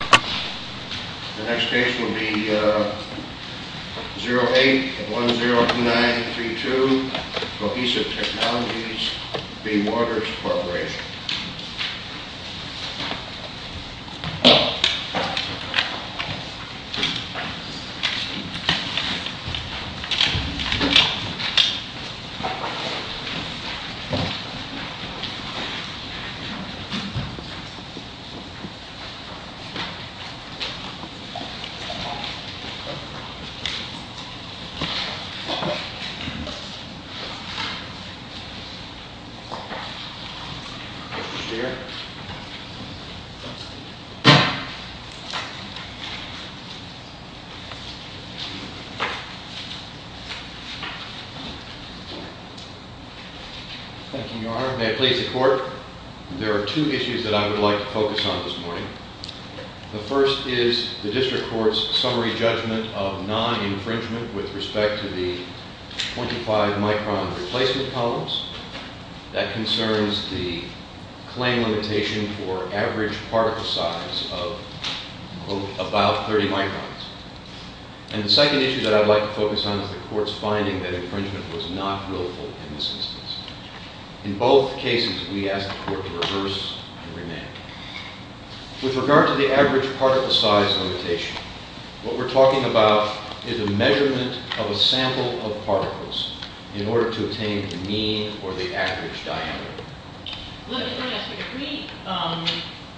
The next case will be 08-102932, Cohesive Technologies v. Waters Corporation. Thank you, Your Honor. May I please the Court? There are two issues that I would like to focus on this morning. The first is the District Court's summary judgment of non-infringement with respect to the 25-micron replacement columns. That concerns the claim limitation for average particle size of, quote, about 30 microns. And the second issue that I'd like to focus on is the Court's finding that infringement was not willful in this instance. In both cases, we ask the Court to reverse and remand. With regard to the average particle size limitation, what we're talking about is a measurement of a sample of particles in order to attain the mean or the average diameter. Let me ask you.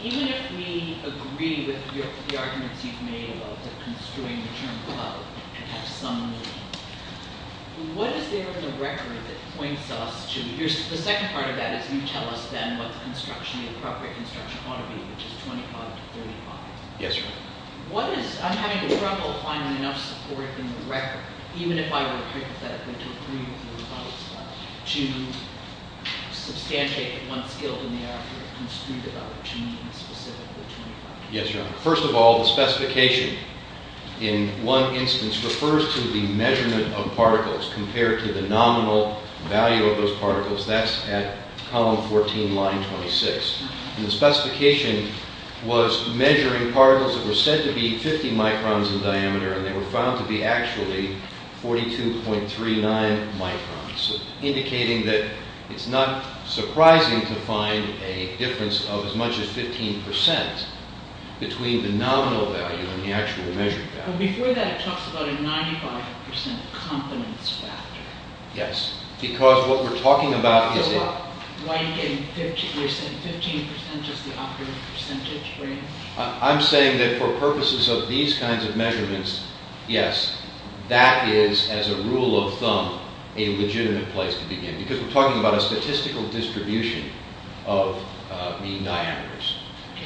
Even if we agree with the arguments you've made about the construing of the term cloud and have some meaning, what is there in the record that points us to? The second part of that is you tell us then what the construction, the appropriate construction ought to be, which is 25 to 35. Yes, Your Honor. I'm having trouble finding enough support in the record, even if I were to hypothetically agree with you on this one, to substantiate what one skilled in the area has construed about what you mean by specifically 25. Yes, Your Honor. First of all, the specification in one instance refers to the measurement of particles compared to the nominal value of those particles. That's at column 14, line 26. The specification was measuring particles that were said to be 50 microns in diameter, and they were found to be actually 42.39 microns, indicating that it's not surprising to find a difference of as much as 15 percent between the nominal value and the actual measured value. Before that, it talks about a 95 percent confidence factor. Yes, because what we're talking about is a… I'm saying that for purposes of these kinds of measurements, yes, that is, as a rule of thumb, a legitimate place to begin, because we're talking about a statistical distribution of mean diameters.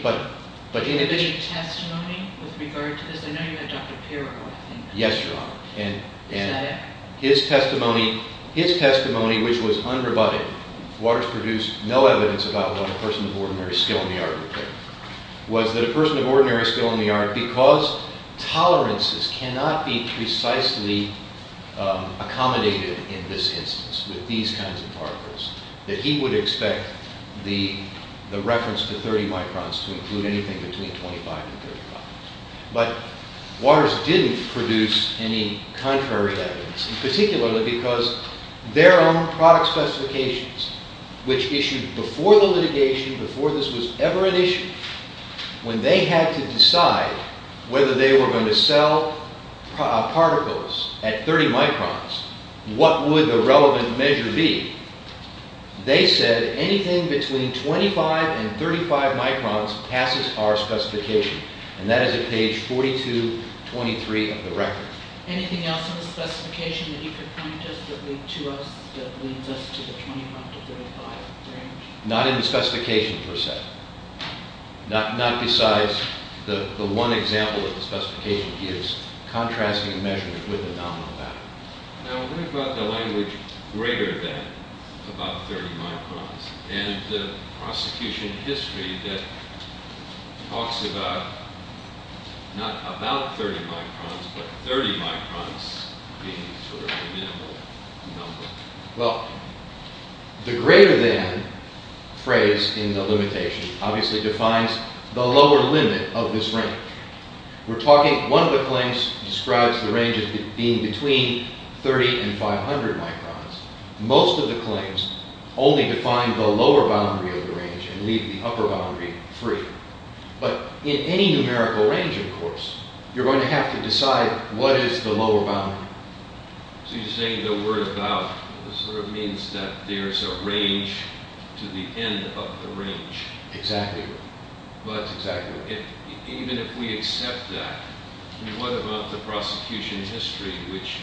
But in addition… Yes, Your Honor, and his testimony, his testimony, which was unrebutted, Waters produced no evidence about what a person of ordinary skill in the art would think, was that a person of ordinary skill in the art, because tolerances cannot be precisely accommodated in this instance with these kinds of particles, that he would expect the reference to 30 microns to include anything between 25 and 35. But Waters didn't produce any contrary evidence, particularly because their own product specifications, which issued before the litigation, before this was ever an issue, when they had to decide whether they were going to sell particles at 30 microns, what would the relevant measure be, they said anything between 25 and 35 microns passes our specification, and that is at page 42, 23 of the record. Anything else in the specification that you could point to us that leads us to the 25 to 35 range? Not in the specification, per se. Not besides the one example that the specification gives, contrasting the measurement with the nominal value. Now, what about the language greater than about 30 microns, and the prosecution history that talks about, not about 30 microns, but 30 microns being sort of a minimal number? Well, the greater than phrase in the limitation obviously defines the lower limit of this range. We're talking, one of the claims describes the range as being between 30 and 500 microns. Most of the claims only define the lower boundary of the range and leave the upper boundary free. But in any numerical range, of course, you're going to have to decide what is the lower boundary. So you're saying the word about sort of means that there's a range to the end of the range. Exactly. Well, that's exactly right. Even if we accept that, what about the prosecution history, which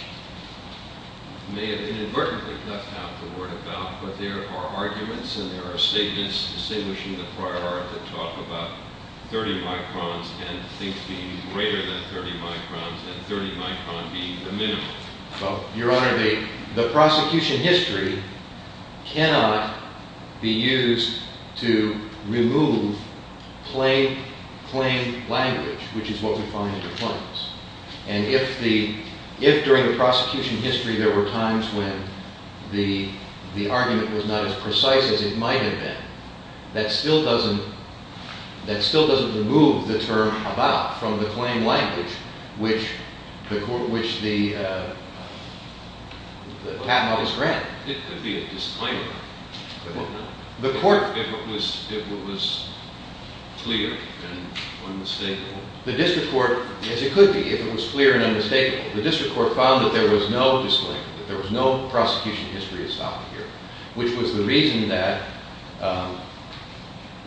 may have inadvertently left out the word about, but there are arguments and there are statements distinguishing the prior art that talk about 30 microns and things being greater than 30 microns and 30 micron being the minimum? Well, Your Honor, the prosecution history cannot be used to remove plain language, which is what we find in the claims. And if during the prosecution history there were times when the argument was not as precise as it might have been, that still doesn't remove the term about from the plain language which the patent office granted. It could be a disclaimer if it was clear and unmistakable. The district court, yes, it could be if it was clear and unmistakable. The district court found that there was no disclaimer, that there was no prosecution history to stop it here, which was the reason that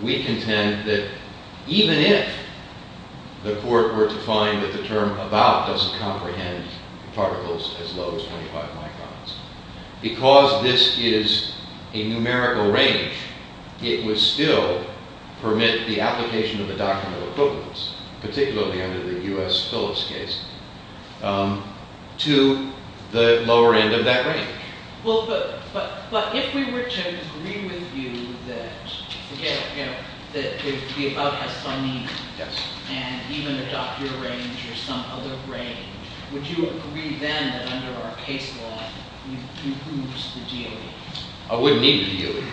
we contend that even if the court were to find that the term about doesn't comprehend particles as low as 25 microns, because this is a numerical range, it would still permit the application of a document of equivalence, particularly under the U.S. Phillips case, to the lower end of that range. Well, but if we were to agree with you that the about has some meaning and even adopt your range or some other range, would you agree then that under our case law you'd lose the DOE? I wouldn't need the DOE.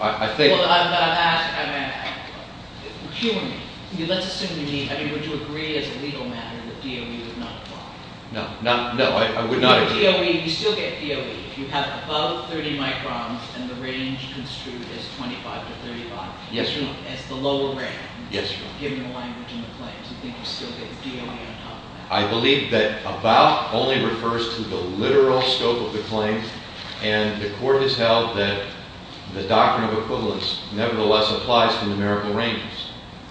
I think... Well, but I'm asking, I mean, humanly, let's assume you need, I mean, would you agree as a legal matter that DOE would not apply? No, no, I would not agree. So DOE, you still get DOE if you have above 30 microns and the range construed as 25 to 35. Yes, Your Honor. As the lower range. Yes, Your Honor. Given the language in the claims, do you think you still get DOE on top of that? I believe that about only refers to the literal scope of the claim, and the court has held that the doctrine of equivalence nevertheless applies to numerical ranges.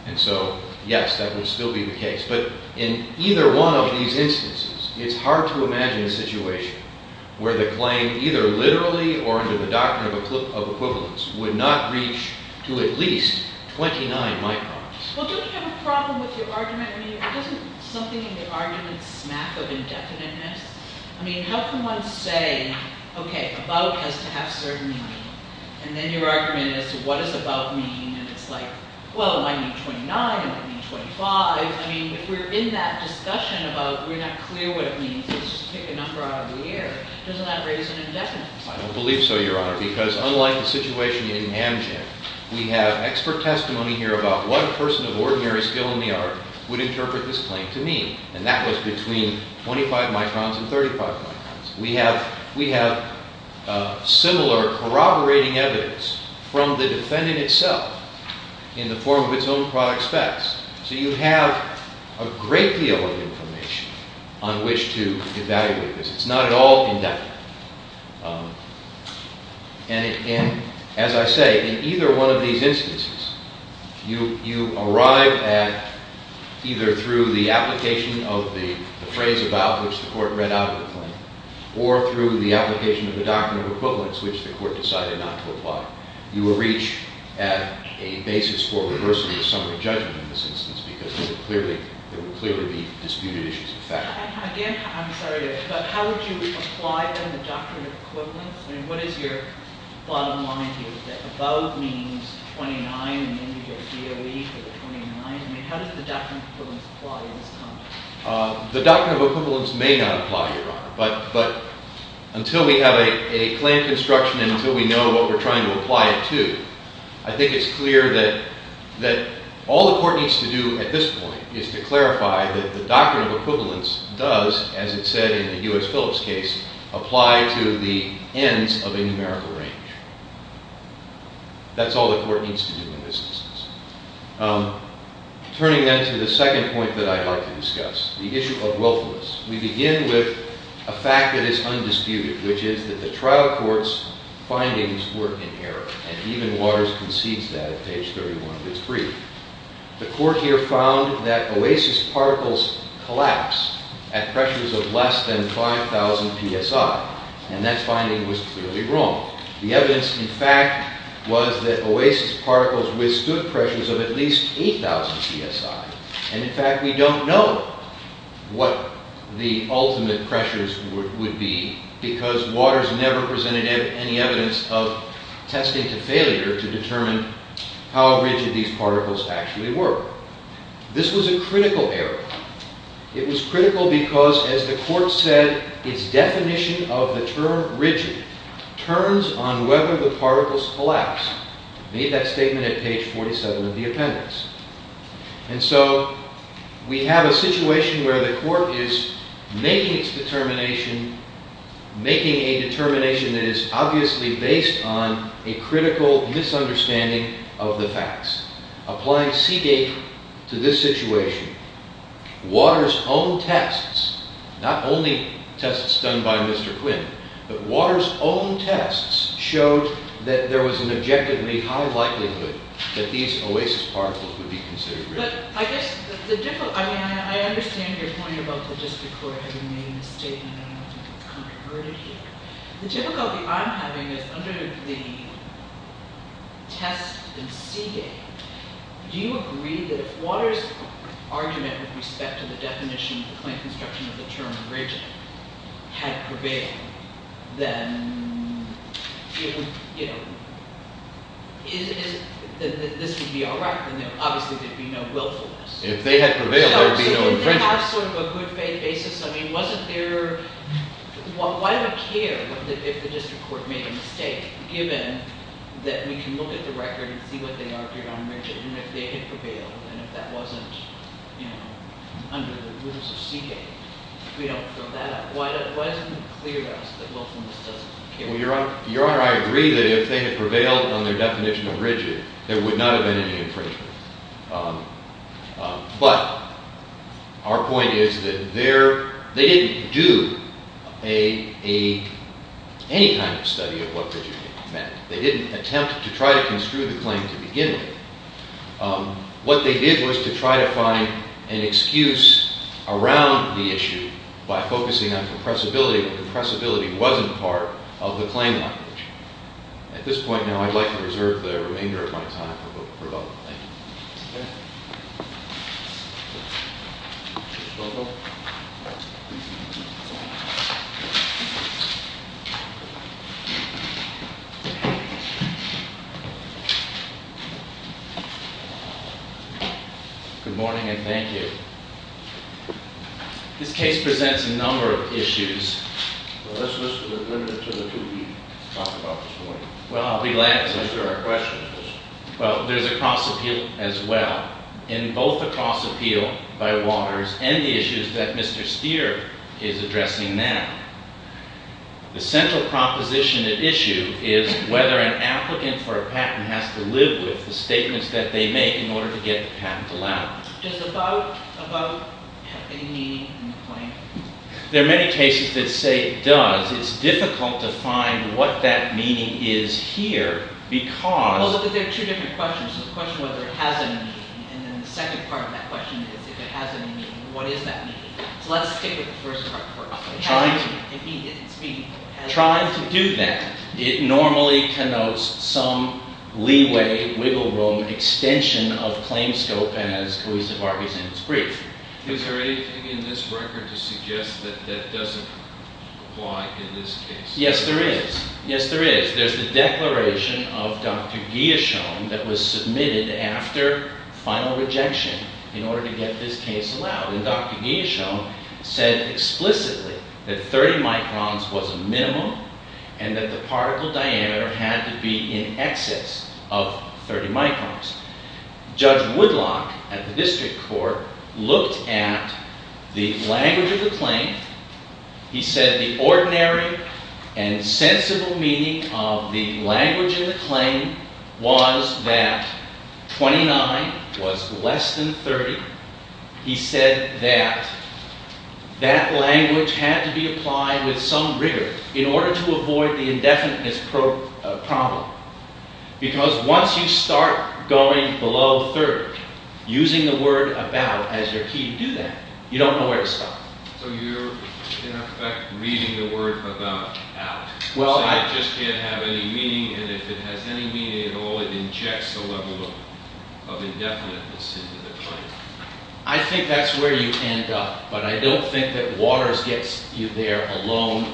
And so, yes, that would still be the case. But in either one of these instances, it's hard to imagine a situation where the claim either literally or under the doctrine of equivalence would not reach to at least 29 microns. Well, don't you have a problem with your argument? I mean, isn't something in the argument smack of indefiniteness? I mean, how can one say, okay, about has to have certain meaning, and then your argument is, what does about mean? And it's like, well, it might mean 29, it might mean 25. I mean, if we're in that discussion about we're not clear what it means, let's just pick a number out of the air, doesn't that raise an indefiniteness? I don't believe so, Your Honor, because unlike the situation in Amgen, we have expert testimony here about what a person of ordinary skill in the art would interpret this claim to mean. And that was between 25 microns and 35 microns. We have similar corroborating evidence from the defendant itself in the form of its own product specs. So you have a great deal of information on which to evaluate this. It's not at all indefinite. And as I say, in either one of these instances, you arrive at either through the application of the phrase about which the court read out of the claim, or through the application of the doctrine of equivalence which the court decided not to apply. You will reach at a basis for reversing the summary judgment in this instance because there would clearly be disputed issues of fact. Again, I'm sorry, but how would you apply then the doctrine of equivalence? I mean, what is your bottom line here? That above means 29 and then you go DOE for the 29? I mean, how does the doctrine of equivalence apply in this context? The doctrine of equivalence may not apply, Your Honor, but until we have a claim construction and until we know what we're trying to apply it to, I think it's clear that all the court needs to do at this point is to clarify that the doctrine of equivalence does, as it said in the U.S. Phillips case, apply to the ends of a numerical range. That's all the court needs to do in this instance. Turning then to the second point that I'd like to discuss, the issue of wealthiness. We begin with a fact that is undisputed, which is that the trial court's findings were in error. And even Waters concedes that at page 31 of his brief. The court here found that Oasis particles collapse at pressures of less than 5,000 psi. And that finding was clearly wrong. The evidence, in fact, was that Oasis particles withstood pressures of at least 8,000 psi. And in fact, we don't know what the ultimate pressures would be because Waters never presented any evidence of testing to failure to determine how rigid these particles actually were. This was a critical error. It was critical because, as the court said, its definition of the term rigid turns on whether the particles collapse. Made that statement at page 47 of the appendix. And so we have a situation where the court is making its determination, making a determination that is obviously based on a critical misunderstanding of the facts. Applying Seagate to this situation, Waters' own tests, not only tests done by Mr. Quinn, but Waters' own tests showed that there was an objectively high likelihood that these Oasis particles would be considered rigid. But I guess the difficulty, I mean, I understand your point about the district court having made a statement. I don't know if you've kind of heard it here. The difficulty I'm having is under the test in Seagate, do you agree that if Waters' argument with respect to the definition of the claim construction of the term rigid had prevailed, then this would be all right? Obviously, there'd be no willfulness. If they had prevailed, there'd be no infringement. So if they have sort of a good faith basis, I mean, wasn't there, why do I care if the district court made a mistake, given that we can look at the record and see what they argued on rigid, and if they had prevailed, and if that wasn't under the rules of Seagate, we don't fill that up. Why isn't it clear to us that willfulness doesn't occur? Well, Your Honor, I agree that if they had prevailed on their definition of rigid, there would not have been any infringement. But our point is that they didn't do any kind of study of what rigid meant. They didn't attempt to try to construe the claim to begin with. What they did was to try to find an excuse around the issue by focusing on compressibility, and compressibility wasn't part of the claim language. At this point now, I'd like to reserve the remainder of my time for both. Thank you. Thank you. Good morning, and thank you. This case presents a number of issues. Well, this list is limited to the two we talked about this morning. Well, I'll be glad to answer our questions. Well, there's a cross-appeal as well, in both the cross-appeal by Waters and the issues that Mr. Steer is addressing now. The central proposition at issue is whether an applicant for a patent has to live with the statements that they make in order to get the patent allowed. Does the vote have any meaning in the claim? There are many cases that say it does. It's difficult to find what that meaning is here, because- Well, look, there are two different questions. The question whether it has any meaning, and then the second part of that question is, if it has any meaning, what is that meaning? So let's stick with the first part first. Trying to- If it's meaningful. Trying to do that. It normally connotes some leeway, wiggle room, extension of claim scope, and as Coisa Vargas said, it's brief. Is there anything in this record to suggest that that doesn't apply in this case? Yes, there is. Yes, there is. There's the declaration of Dr. Guillauchon that was submitted after final rejection in order to get this case allowed. And Dr. Guillauchon said explicitly that 30 microns was a minimum, and that the particle diameter had to be in excess of 30 microns. Judge Woodlock at the district court looked at the language of the claim. He said the ordinary and sensible meaning of the language in the claim was that 29 was less than 30. He said that that language had to be applied with some rigor in order to avoid the indefiniteness problem. Because once you start going below 30, using the word about as your key to do that, you don't know where to stop. So you're, in effect, reading the word about out. Well, I- So you just can't have any meaning, and if it has any meaning at all, it injects a level of indefiniteness into the claim. I think that's where you end up, but I don't think that Waters gets you there alone.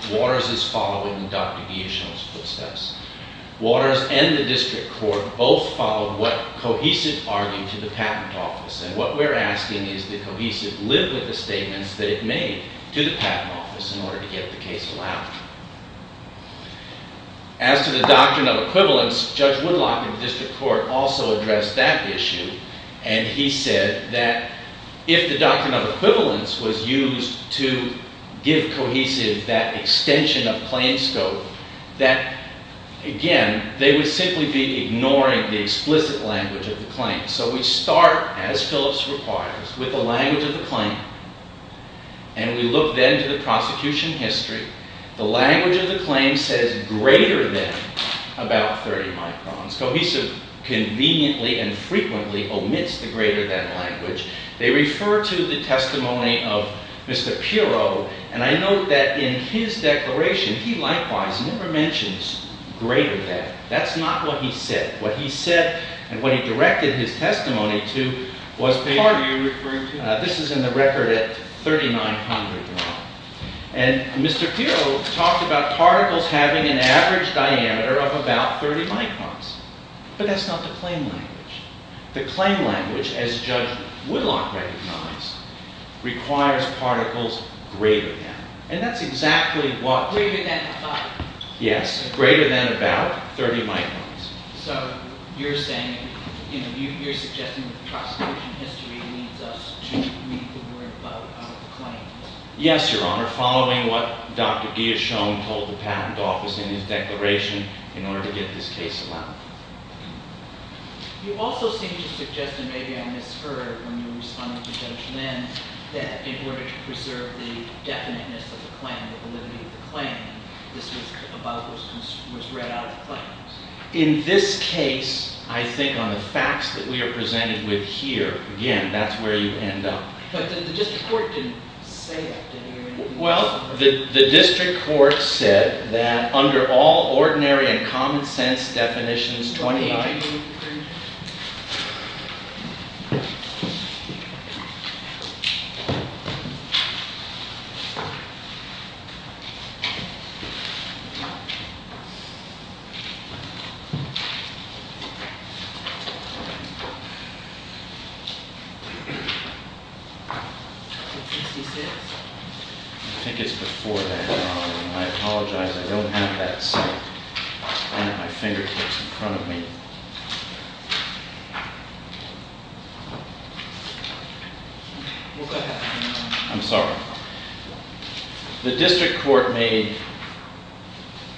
Waters and the district court both followed what Cohesive argued to the patent office. And what we're asking is that Cohesive live with the statements that it made to the patent office in order to get the case allowed. As to the doctrine of equivalence, Judge Woodlock at the district court also addressed that issue. And he said that if the doctrine of equivalence was used to give Cohesive that extension of claims scope, that, again, they would simply be ignoring the explicit language of the claim. So we start, as Phillips requires, with the language of the claim, and we look then to the prosecution history. The language of the claim says greater than about 30 microns. Cohesive conveniently and frequently omits the greater than language. They refer to the testimony of Mr. Pirro, and I note that in his declaration, he likewise never mentions greater than. That's not what he said. What he said and what he directed his testimony to was part- The paper you're referring to? This is in the record at 3900. And Mr. Pirro talked about particles having an average diameter of about 30 microns. But that's not the claim language. The claim language, as Judge Woodlock recognized, requires particles greater than. And that's exactly what- Greater than 5. Yes. Greater than about 30 microns. So you're saying, you know, you're suggesting that the prosecution history leads us to read the word about the claim. Yes, Your Honor. Following what Dr. Guillauchon told the patent office in his declaration in order to get this case allowed. You also seem to suggest, and maybe I misheard when you responded to Judge Lynn, that in order to preserve the definiteness of the claim, the validity of the claim, this was about what was read out of the claims. In this case, I think on the facts that we are presented with here, again, that's where you end up. But the district court didn't say that. Well, the district court said that under all ordinary and common sense definitions, 29- I think it's before that, Your Honor. I apologize, I don't have that sign at my fingertips in front of me. Well, go ahead. I'm sorry. The district court made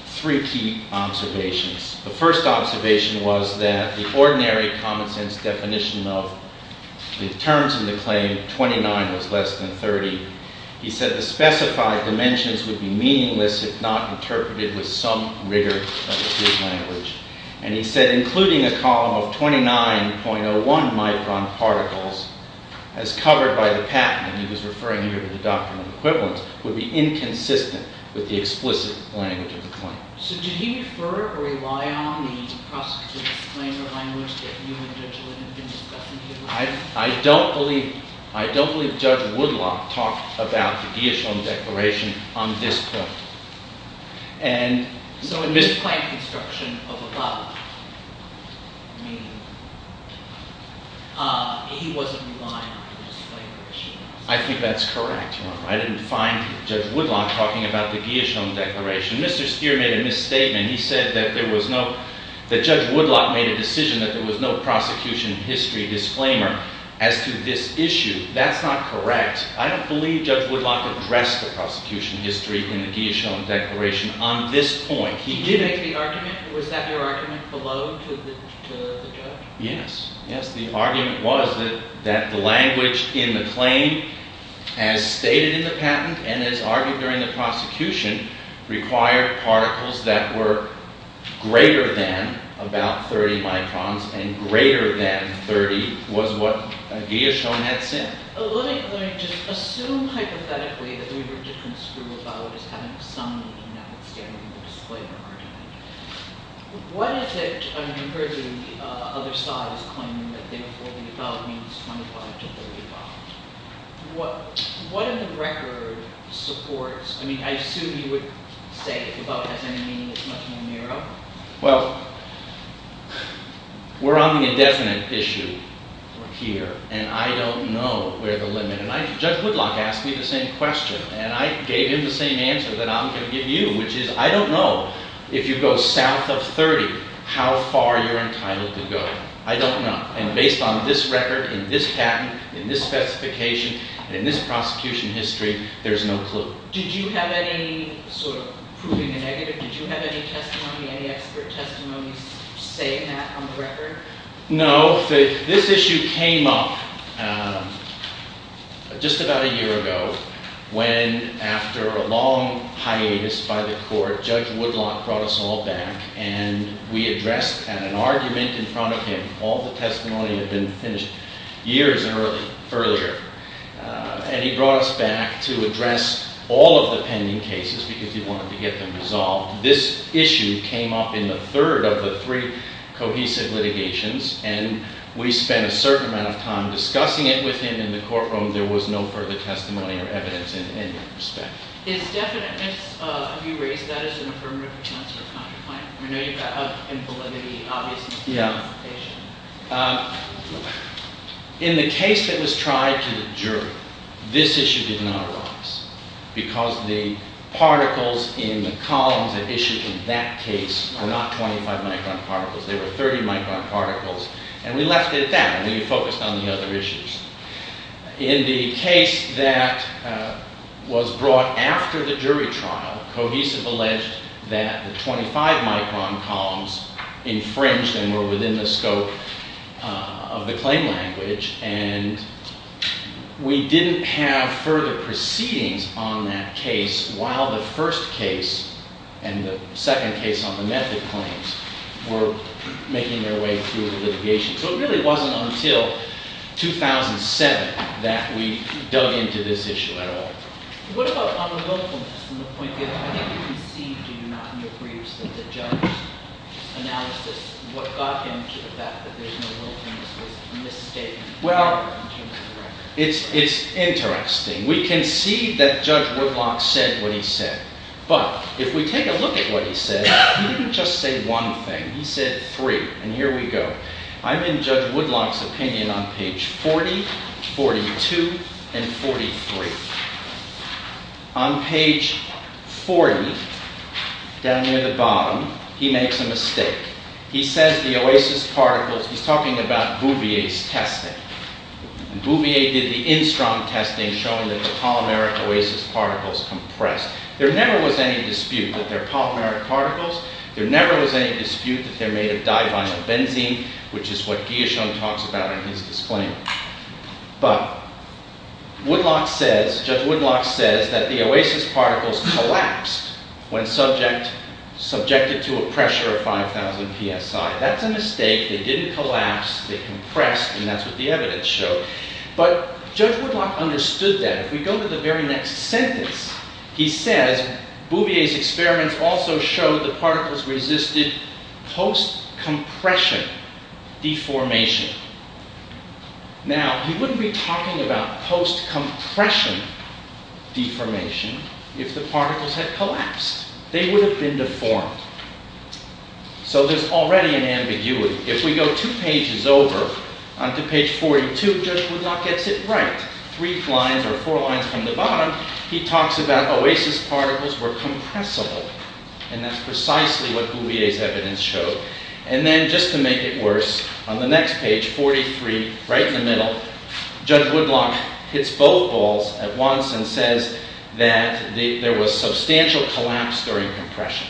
three key observations. The first observation was that the ordinary common sense definition of the terms in the claim, 29 was less than 30. He said the specified dimensions would be meaningless if not interpreted with some rigor of his language. And he said including a column of 29.01 micron particles as covered by the patent, and he was referring here to the doctrinal equivalence, would be inconsistent with the explicit language of the claim. So did he refer or rely on the prosecutive's claim of language that you and Judge Lynn have been discussing here? I don't believe Judge Woodlock talked about the Gieshon Declaration on this point. So in this claim construction of the law, he wasn't relying on the disclaimer that she made? I think that's correct, Your Honor. I didn't find Judge Woodlock talking about the Gieshon Declaration. Mr. Stier made a misstatement. He said that Judge Woodlock made a decision that there was no prosecution history disclaimer as to this issue. That's not correct. I don't believe Judge Woodlock addressed the prosecution history in the Gieshon Declaration on this point. Did he make the argument? Was that your argument below to the judge? Yes. Yes, the argument was that the language in the claim as stated in the patent and as argued during the prosecution required particles that were greater than about 30 microns and greater than 30 was what Gieshon had said. Let me just assume hypothetically that we were just going to screw about as having some meaning that was stated in the disclaimer argument. What is it, in comparison to the other sides claiming that they were holding about means 25 to 35? What in the record supports, I mean I assume you would say that about has any meaning that's much more narrow? Well, we're on the indefinite issue here, and I don't know where the limit is. Judge Woodlock asked me the same question, and I gave him the same answer that I'm going to give you, which is I don't know if you go south of 30 how far you're entitled to go. I don't know. And based on this record and this patent and this specification and this prosecution history, there's no clue. Did you have any sort of proving a negative? Did you have any testimony, any expert testimony saying that on the record? No. This issue came up just about a year ago when after a long hiatus by the court, Judge Woodlock brought us all back, and we addressed an argument in front of him. All the testimony had been finished years earlier. And he brought us back to address all of the pending cases because he wanted to get them resolved. This issue came up in the third of the three cohesive litigations, and we spent a certain amount of time discussing it with him in the courtroom. There was no further testimony or evidence in any respect. Is definiteness, have you raised that as an affirmative defense or a contra-plaint? I know you've got a validity, obviously. Yeah. In the case that was tried to the jury, this issue did not arise because the particles in the columns that issued in that case were not 25 micron particles. They were 30 micron particles. And we left it at that, and we focused on the other issues. In the case that was brought after the jury trial, Cohesive alleged that the 25 micron columns infringed and were within the scope of the claim language. And we didn't have further proceedings on that case while the first case and the second case on the method claims were making their way through the litigation. So it really wasn't until 2007 that we dug into this issue at all. What about unlawfulness? I think you conceded in your briefs that the judge's analysis, what got him to the fact that there's no lawfulness, was a misstatement. Well, it's interesting. We concede that Judge Woodblock said what he said. But if we take a look at what he said, he didn't just say one thing. He said three, and here we go. I'm in Judge Woodblock's opinion on page 40, 42, and 43. On page 40, down near the bottom, he makes a mistake. He says the oasis particles, he's talking about Bouvier's testing. Bouvier did the Enstrom testing, showing that the polymeric oasis particles compressed. There never was any dispute that they're polymeric particles. There never was any dispute that they're made of divinyl benzene, which is what Guillauchon talks about in his disclaimer. But Judge Woodblock says that the oasis particles collapsed when subjected to a pressure of 5,000 psi. That's a mistake. They didn't collapse. They compressed, and that's what the evidence showed. But Judge Woodblock understood that. If we go to the very next sentence, he says Bouvier's experiments also showed the particles resisted post-compression deformation. Now, he wouldn't be talking about post-compression deformation if the particles had collapsed. They would have been deformed. So there's already an ambiguity. If we go two pages over onto page 42, Judge Woodblock gets it right. Three lines or four lines from the bottom, he talks about oasis particles were compressible, and that's precisely what Bouvier's evidence showed. And then, just to make it worse, on the next page, 43, right in the middle, Judge Woodblock hits both balls at once and says that there was substantial collapse during compression.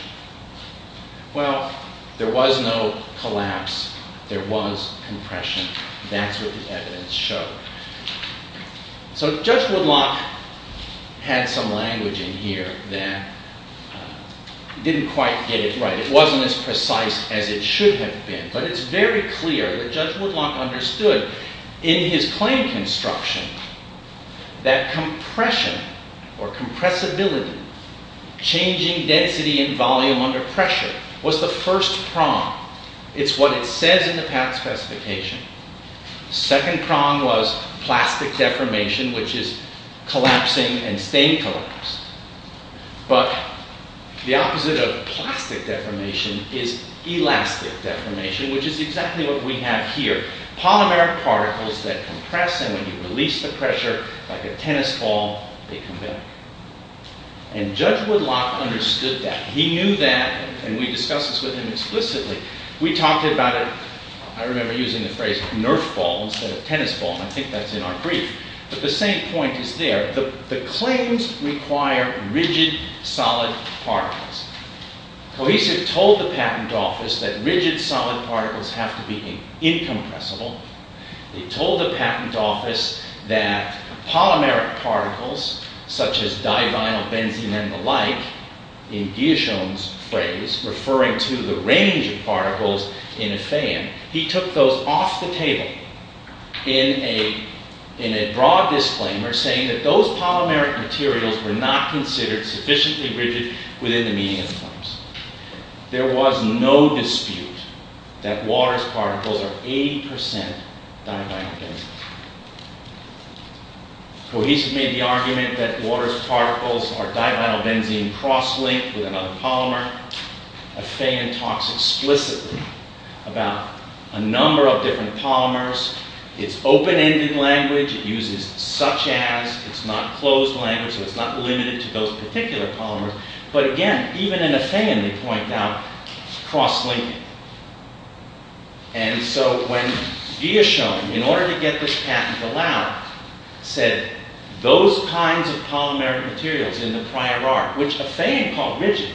Well, there was no collapse. There was compression. That's what the evidence showed. So Judge Woodblock had some language in here that didn't quite get it right. It wasn't as precise as it should have been. But it's very clear that Judge Woodblock understood in his claim construction that compression or compressibility, changing density and volume under pressure, was the first prong. It's what it says in the PATH specification. The second prong was plastic deformation, which is collapsing and staying collapsed. But the opposite of plastic deformation is elastic deformation, which is exactly what we have here. Polymeric particles that compress, and when you release the pressure, like a tennis ball, they come back. And Judge Woodblock understood that. He knew that, and we discussed this with him explicitly. We talked about it, I remember using the phrase, nerf ball instead of tennis ball, and I think that's in our brief. But the same point is there. The claims require rigid, solid particles. Cohesive told the patent office that rigid, solid particles have to be incompressible. It told the patent office that polymeric particles, such as divinyl, benzene, and the like, in Guillaume's phrase, referring to the range of particles in a fan, he took those off the table in a broad disclaimer, saying that those polymeric materials were not considered sufficiently rigid within the meaning of the claims. There was no dispute that water's particles are 80% divinylbenzene. Cohesive made the argument that water's particles are divinylbenzene cross-linked with another polymer. A fan talks explicitly about a number of different polymers. It's open-ended language, it uses such-as, it's not closed language, so it's not limited to those particular polymers. But again, even in a fan they point out cross-linking. And so when Guillaume, in order to get this patent allowed, said those kinds of polymeric materials in the prior art, which a fan called rigid,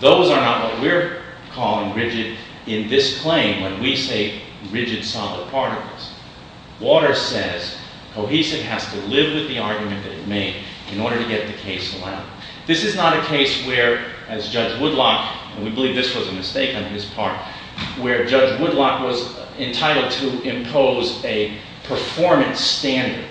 those are not what we're calling rigid in this claim when we say rigid solid particles. Water says cohesive has to live with the argument that it made in order to get the case allowed. This is not a case where, as Judge Woodlock, and we believe this was a mistake on his part, where Judge Woodlock was entitled to impose a performance standard,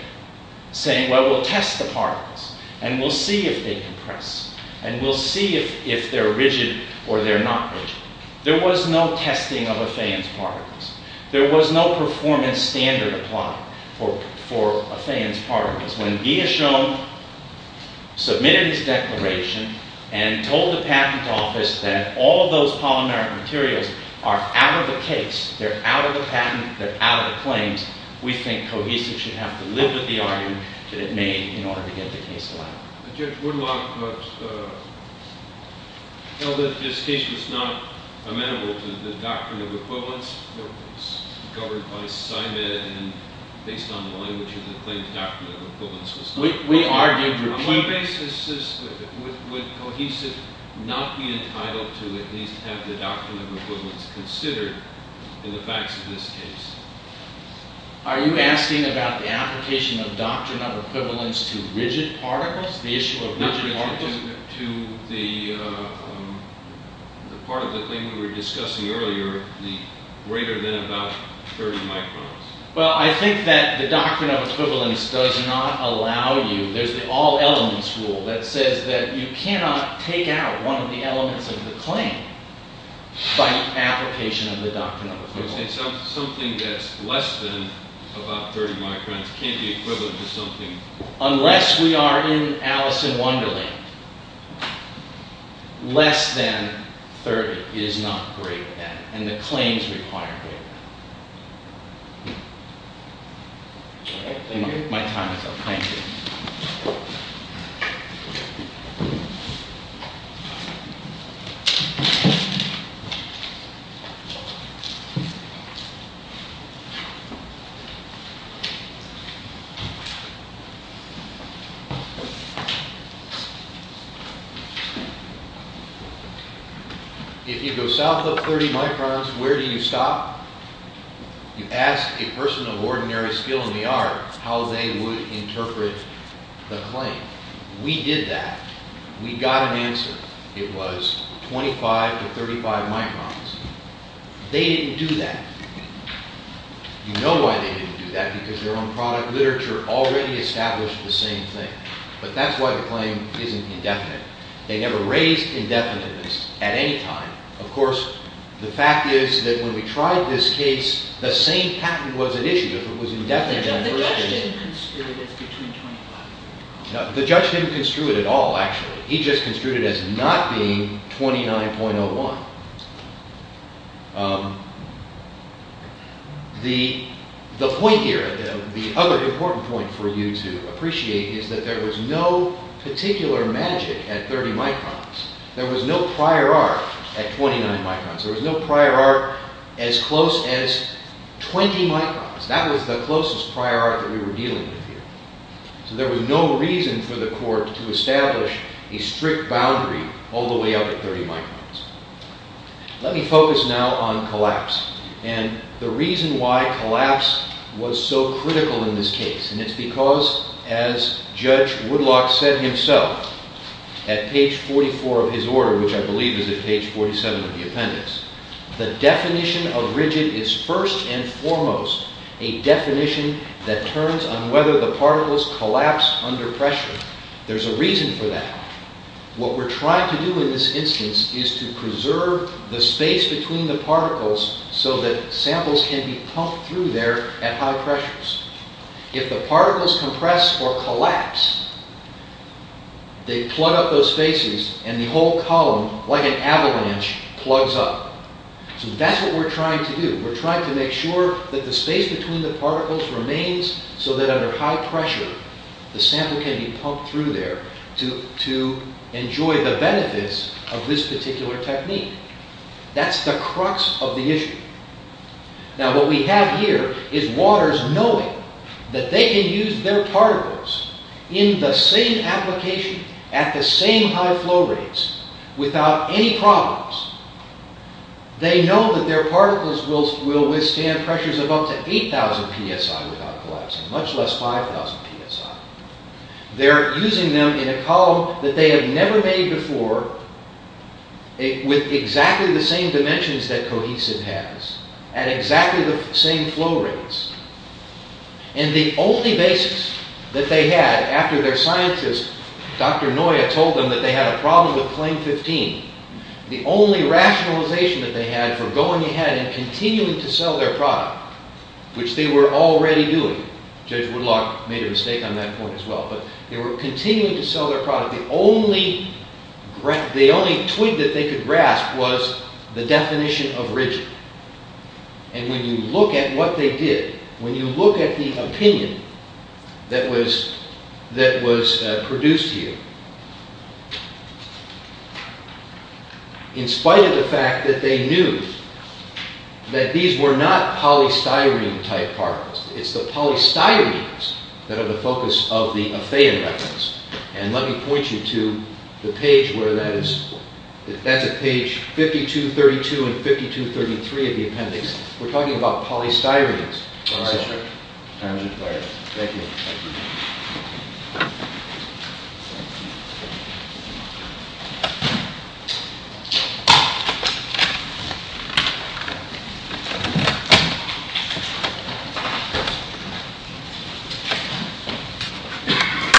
saying, well, we'll test the particles, and we'll see if they compress, and we'll see if they're rigid or they're not rigid. There was no testing of a fan's particles. There was no performance standard applied for a fan's particles. When Guillaume submitted his declaration and told the patent office that all of those polymeric materials are out of the case, they're out of the patent, they're out of the claims, we think cohesive should have to live with the argument that it made in order to get the case allowed. Judge Woodlock held that this case was not amenable to the doctrine of equivalence. It was governed by CIMED, and based on the language of the claim, the doctrine of equivalence was not amenable. On what basis would cohesive not be entitled to at least have the doctrine of equivalence considered in the facts of this case? Are you asking about the application of doctrine of equivalence to rigid particles? The issue of rigid particles? To the part of the claim we were discussing earlier, the greater than about 30 microns. Well, I think that the doctrine of equivalence does not allow you, there's the all elements rule that says that you cannot take out one of the elements of the claim by application of the doctrine of equivalence. You're saying something that's less than about 30 microns can't be equivalent to something... Unless we are in Alice in Wonderland, less than 30 is not greater than, and the claims require greater than. Okay, thank you. My time is up, thank you. If you go south of 30 microns, where do you stop? You ask a person of ordinary skill in the art how they would interpret the claim. We did that. We got an answer. It was 25 to 35 microns. They didn't do that. You know why they didn't do that, because their own product literature already established the same thing. But that's why the claim isn't indefinite. They never raised indefiniteness at any time. Of course, the fact is that when we tried this case, the same patent was at issue. If it was indefinite... The judge didn't construe it as between 25... The judge didn't construe it at all, actually. He just construed it as not being 29.01. The point here, the other important point for you to appreciate is that there was no particular magic at 30 microns. There was no prior art at 29 microns. There was no prior art as close as 20 microns. That was the closest prior art that we were dealing with here. There was no reason for the court to establish a strict boundary all the way up to 30 microns. Let me focus now on collapse, and the reason why collapse was so critical in this case. It's because, as Judge Woodlock said himself at page 44 of his order, which I believe is at page 47 of the appendix, the definition of rigid is first and foremost a definition that turns on whether the particles collapse under pressure. There's a reason for that. What we're trying to do in this instance is to preserve the space between the particles so that samples can be pumped through there at high pressures. If the particles compress or collapse, they plug up those spaces and the whole column, like an avalanche, plugs up. That's what we're trying to do. We're trying to make sure that the space between the particles remains so that under high pressure, the sample can be pumped through there to enjoy the benefits of this particular technique. That's the crux of the issue. Now what we have here is waters knowing that they can use their particles in the same application at the same high flow rates without any problems. They know that their particles will withstand pressures of up to 8,000 psi without collapsing, much less 5,000 psi. They're using them in a column that they have never made before with exactly the same dimensions that cohesive has at exactly the same flow rates. And the only basis that they had after their scientist, Dr. Noya, told them that they had a problem with plane 15, the only rationalization that they had for going ahead and continuing to sell their product, which they were already doing. Judge Woodlock made a mistake on that point as well, but they were continuing to sell their product. The only twig that they could grasp was the definition of rigid. And when you look at what they did, when you look at the opinion that was produced here, in spite of the fact that they knew that these were not polystyrene type particles, it's the polystyrenes that are the focus of the aphaean reference. And let me point you to the page where that is. That's at page 5232 and 5233 of the appendix. We're talking about polystyrenes. All right, sir. Thank you.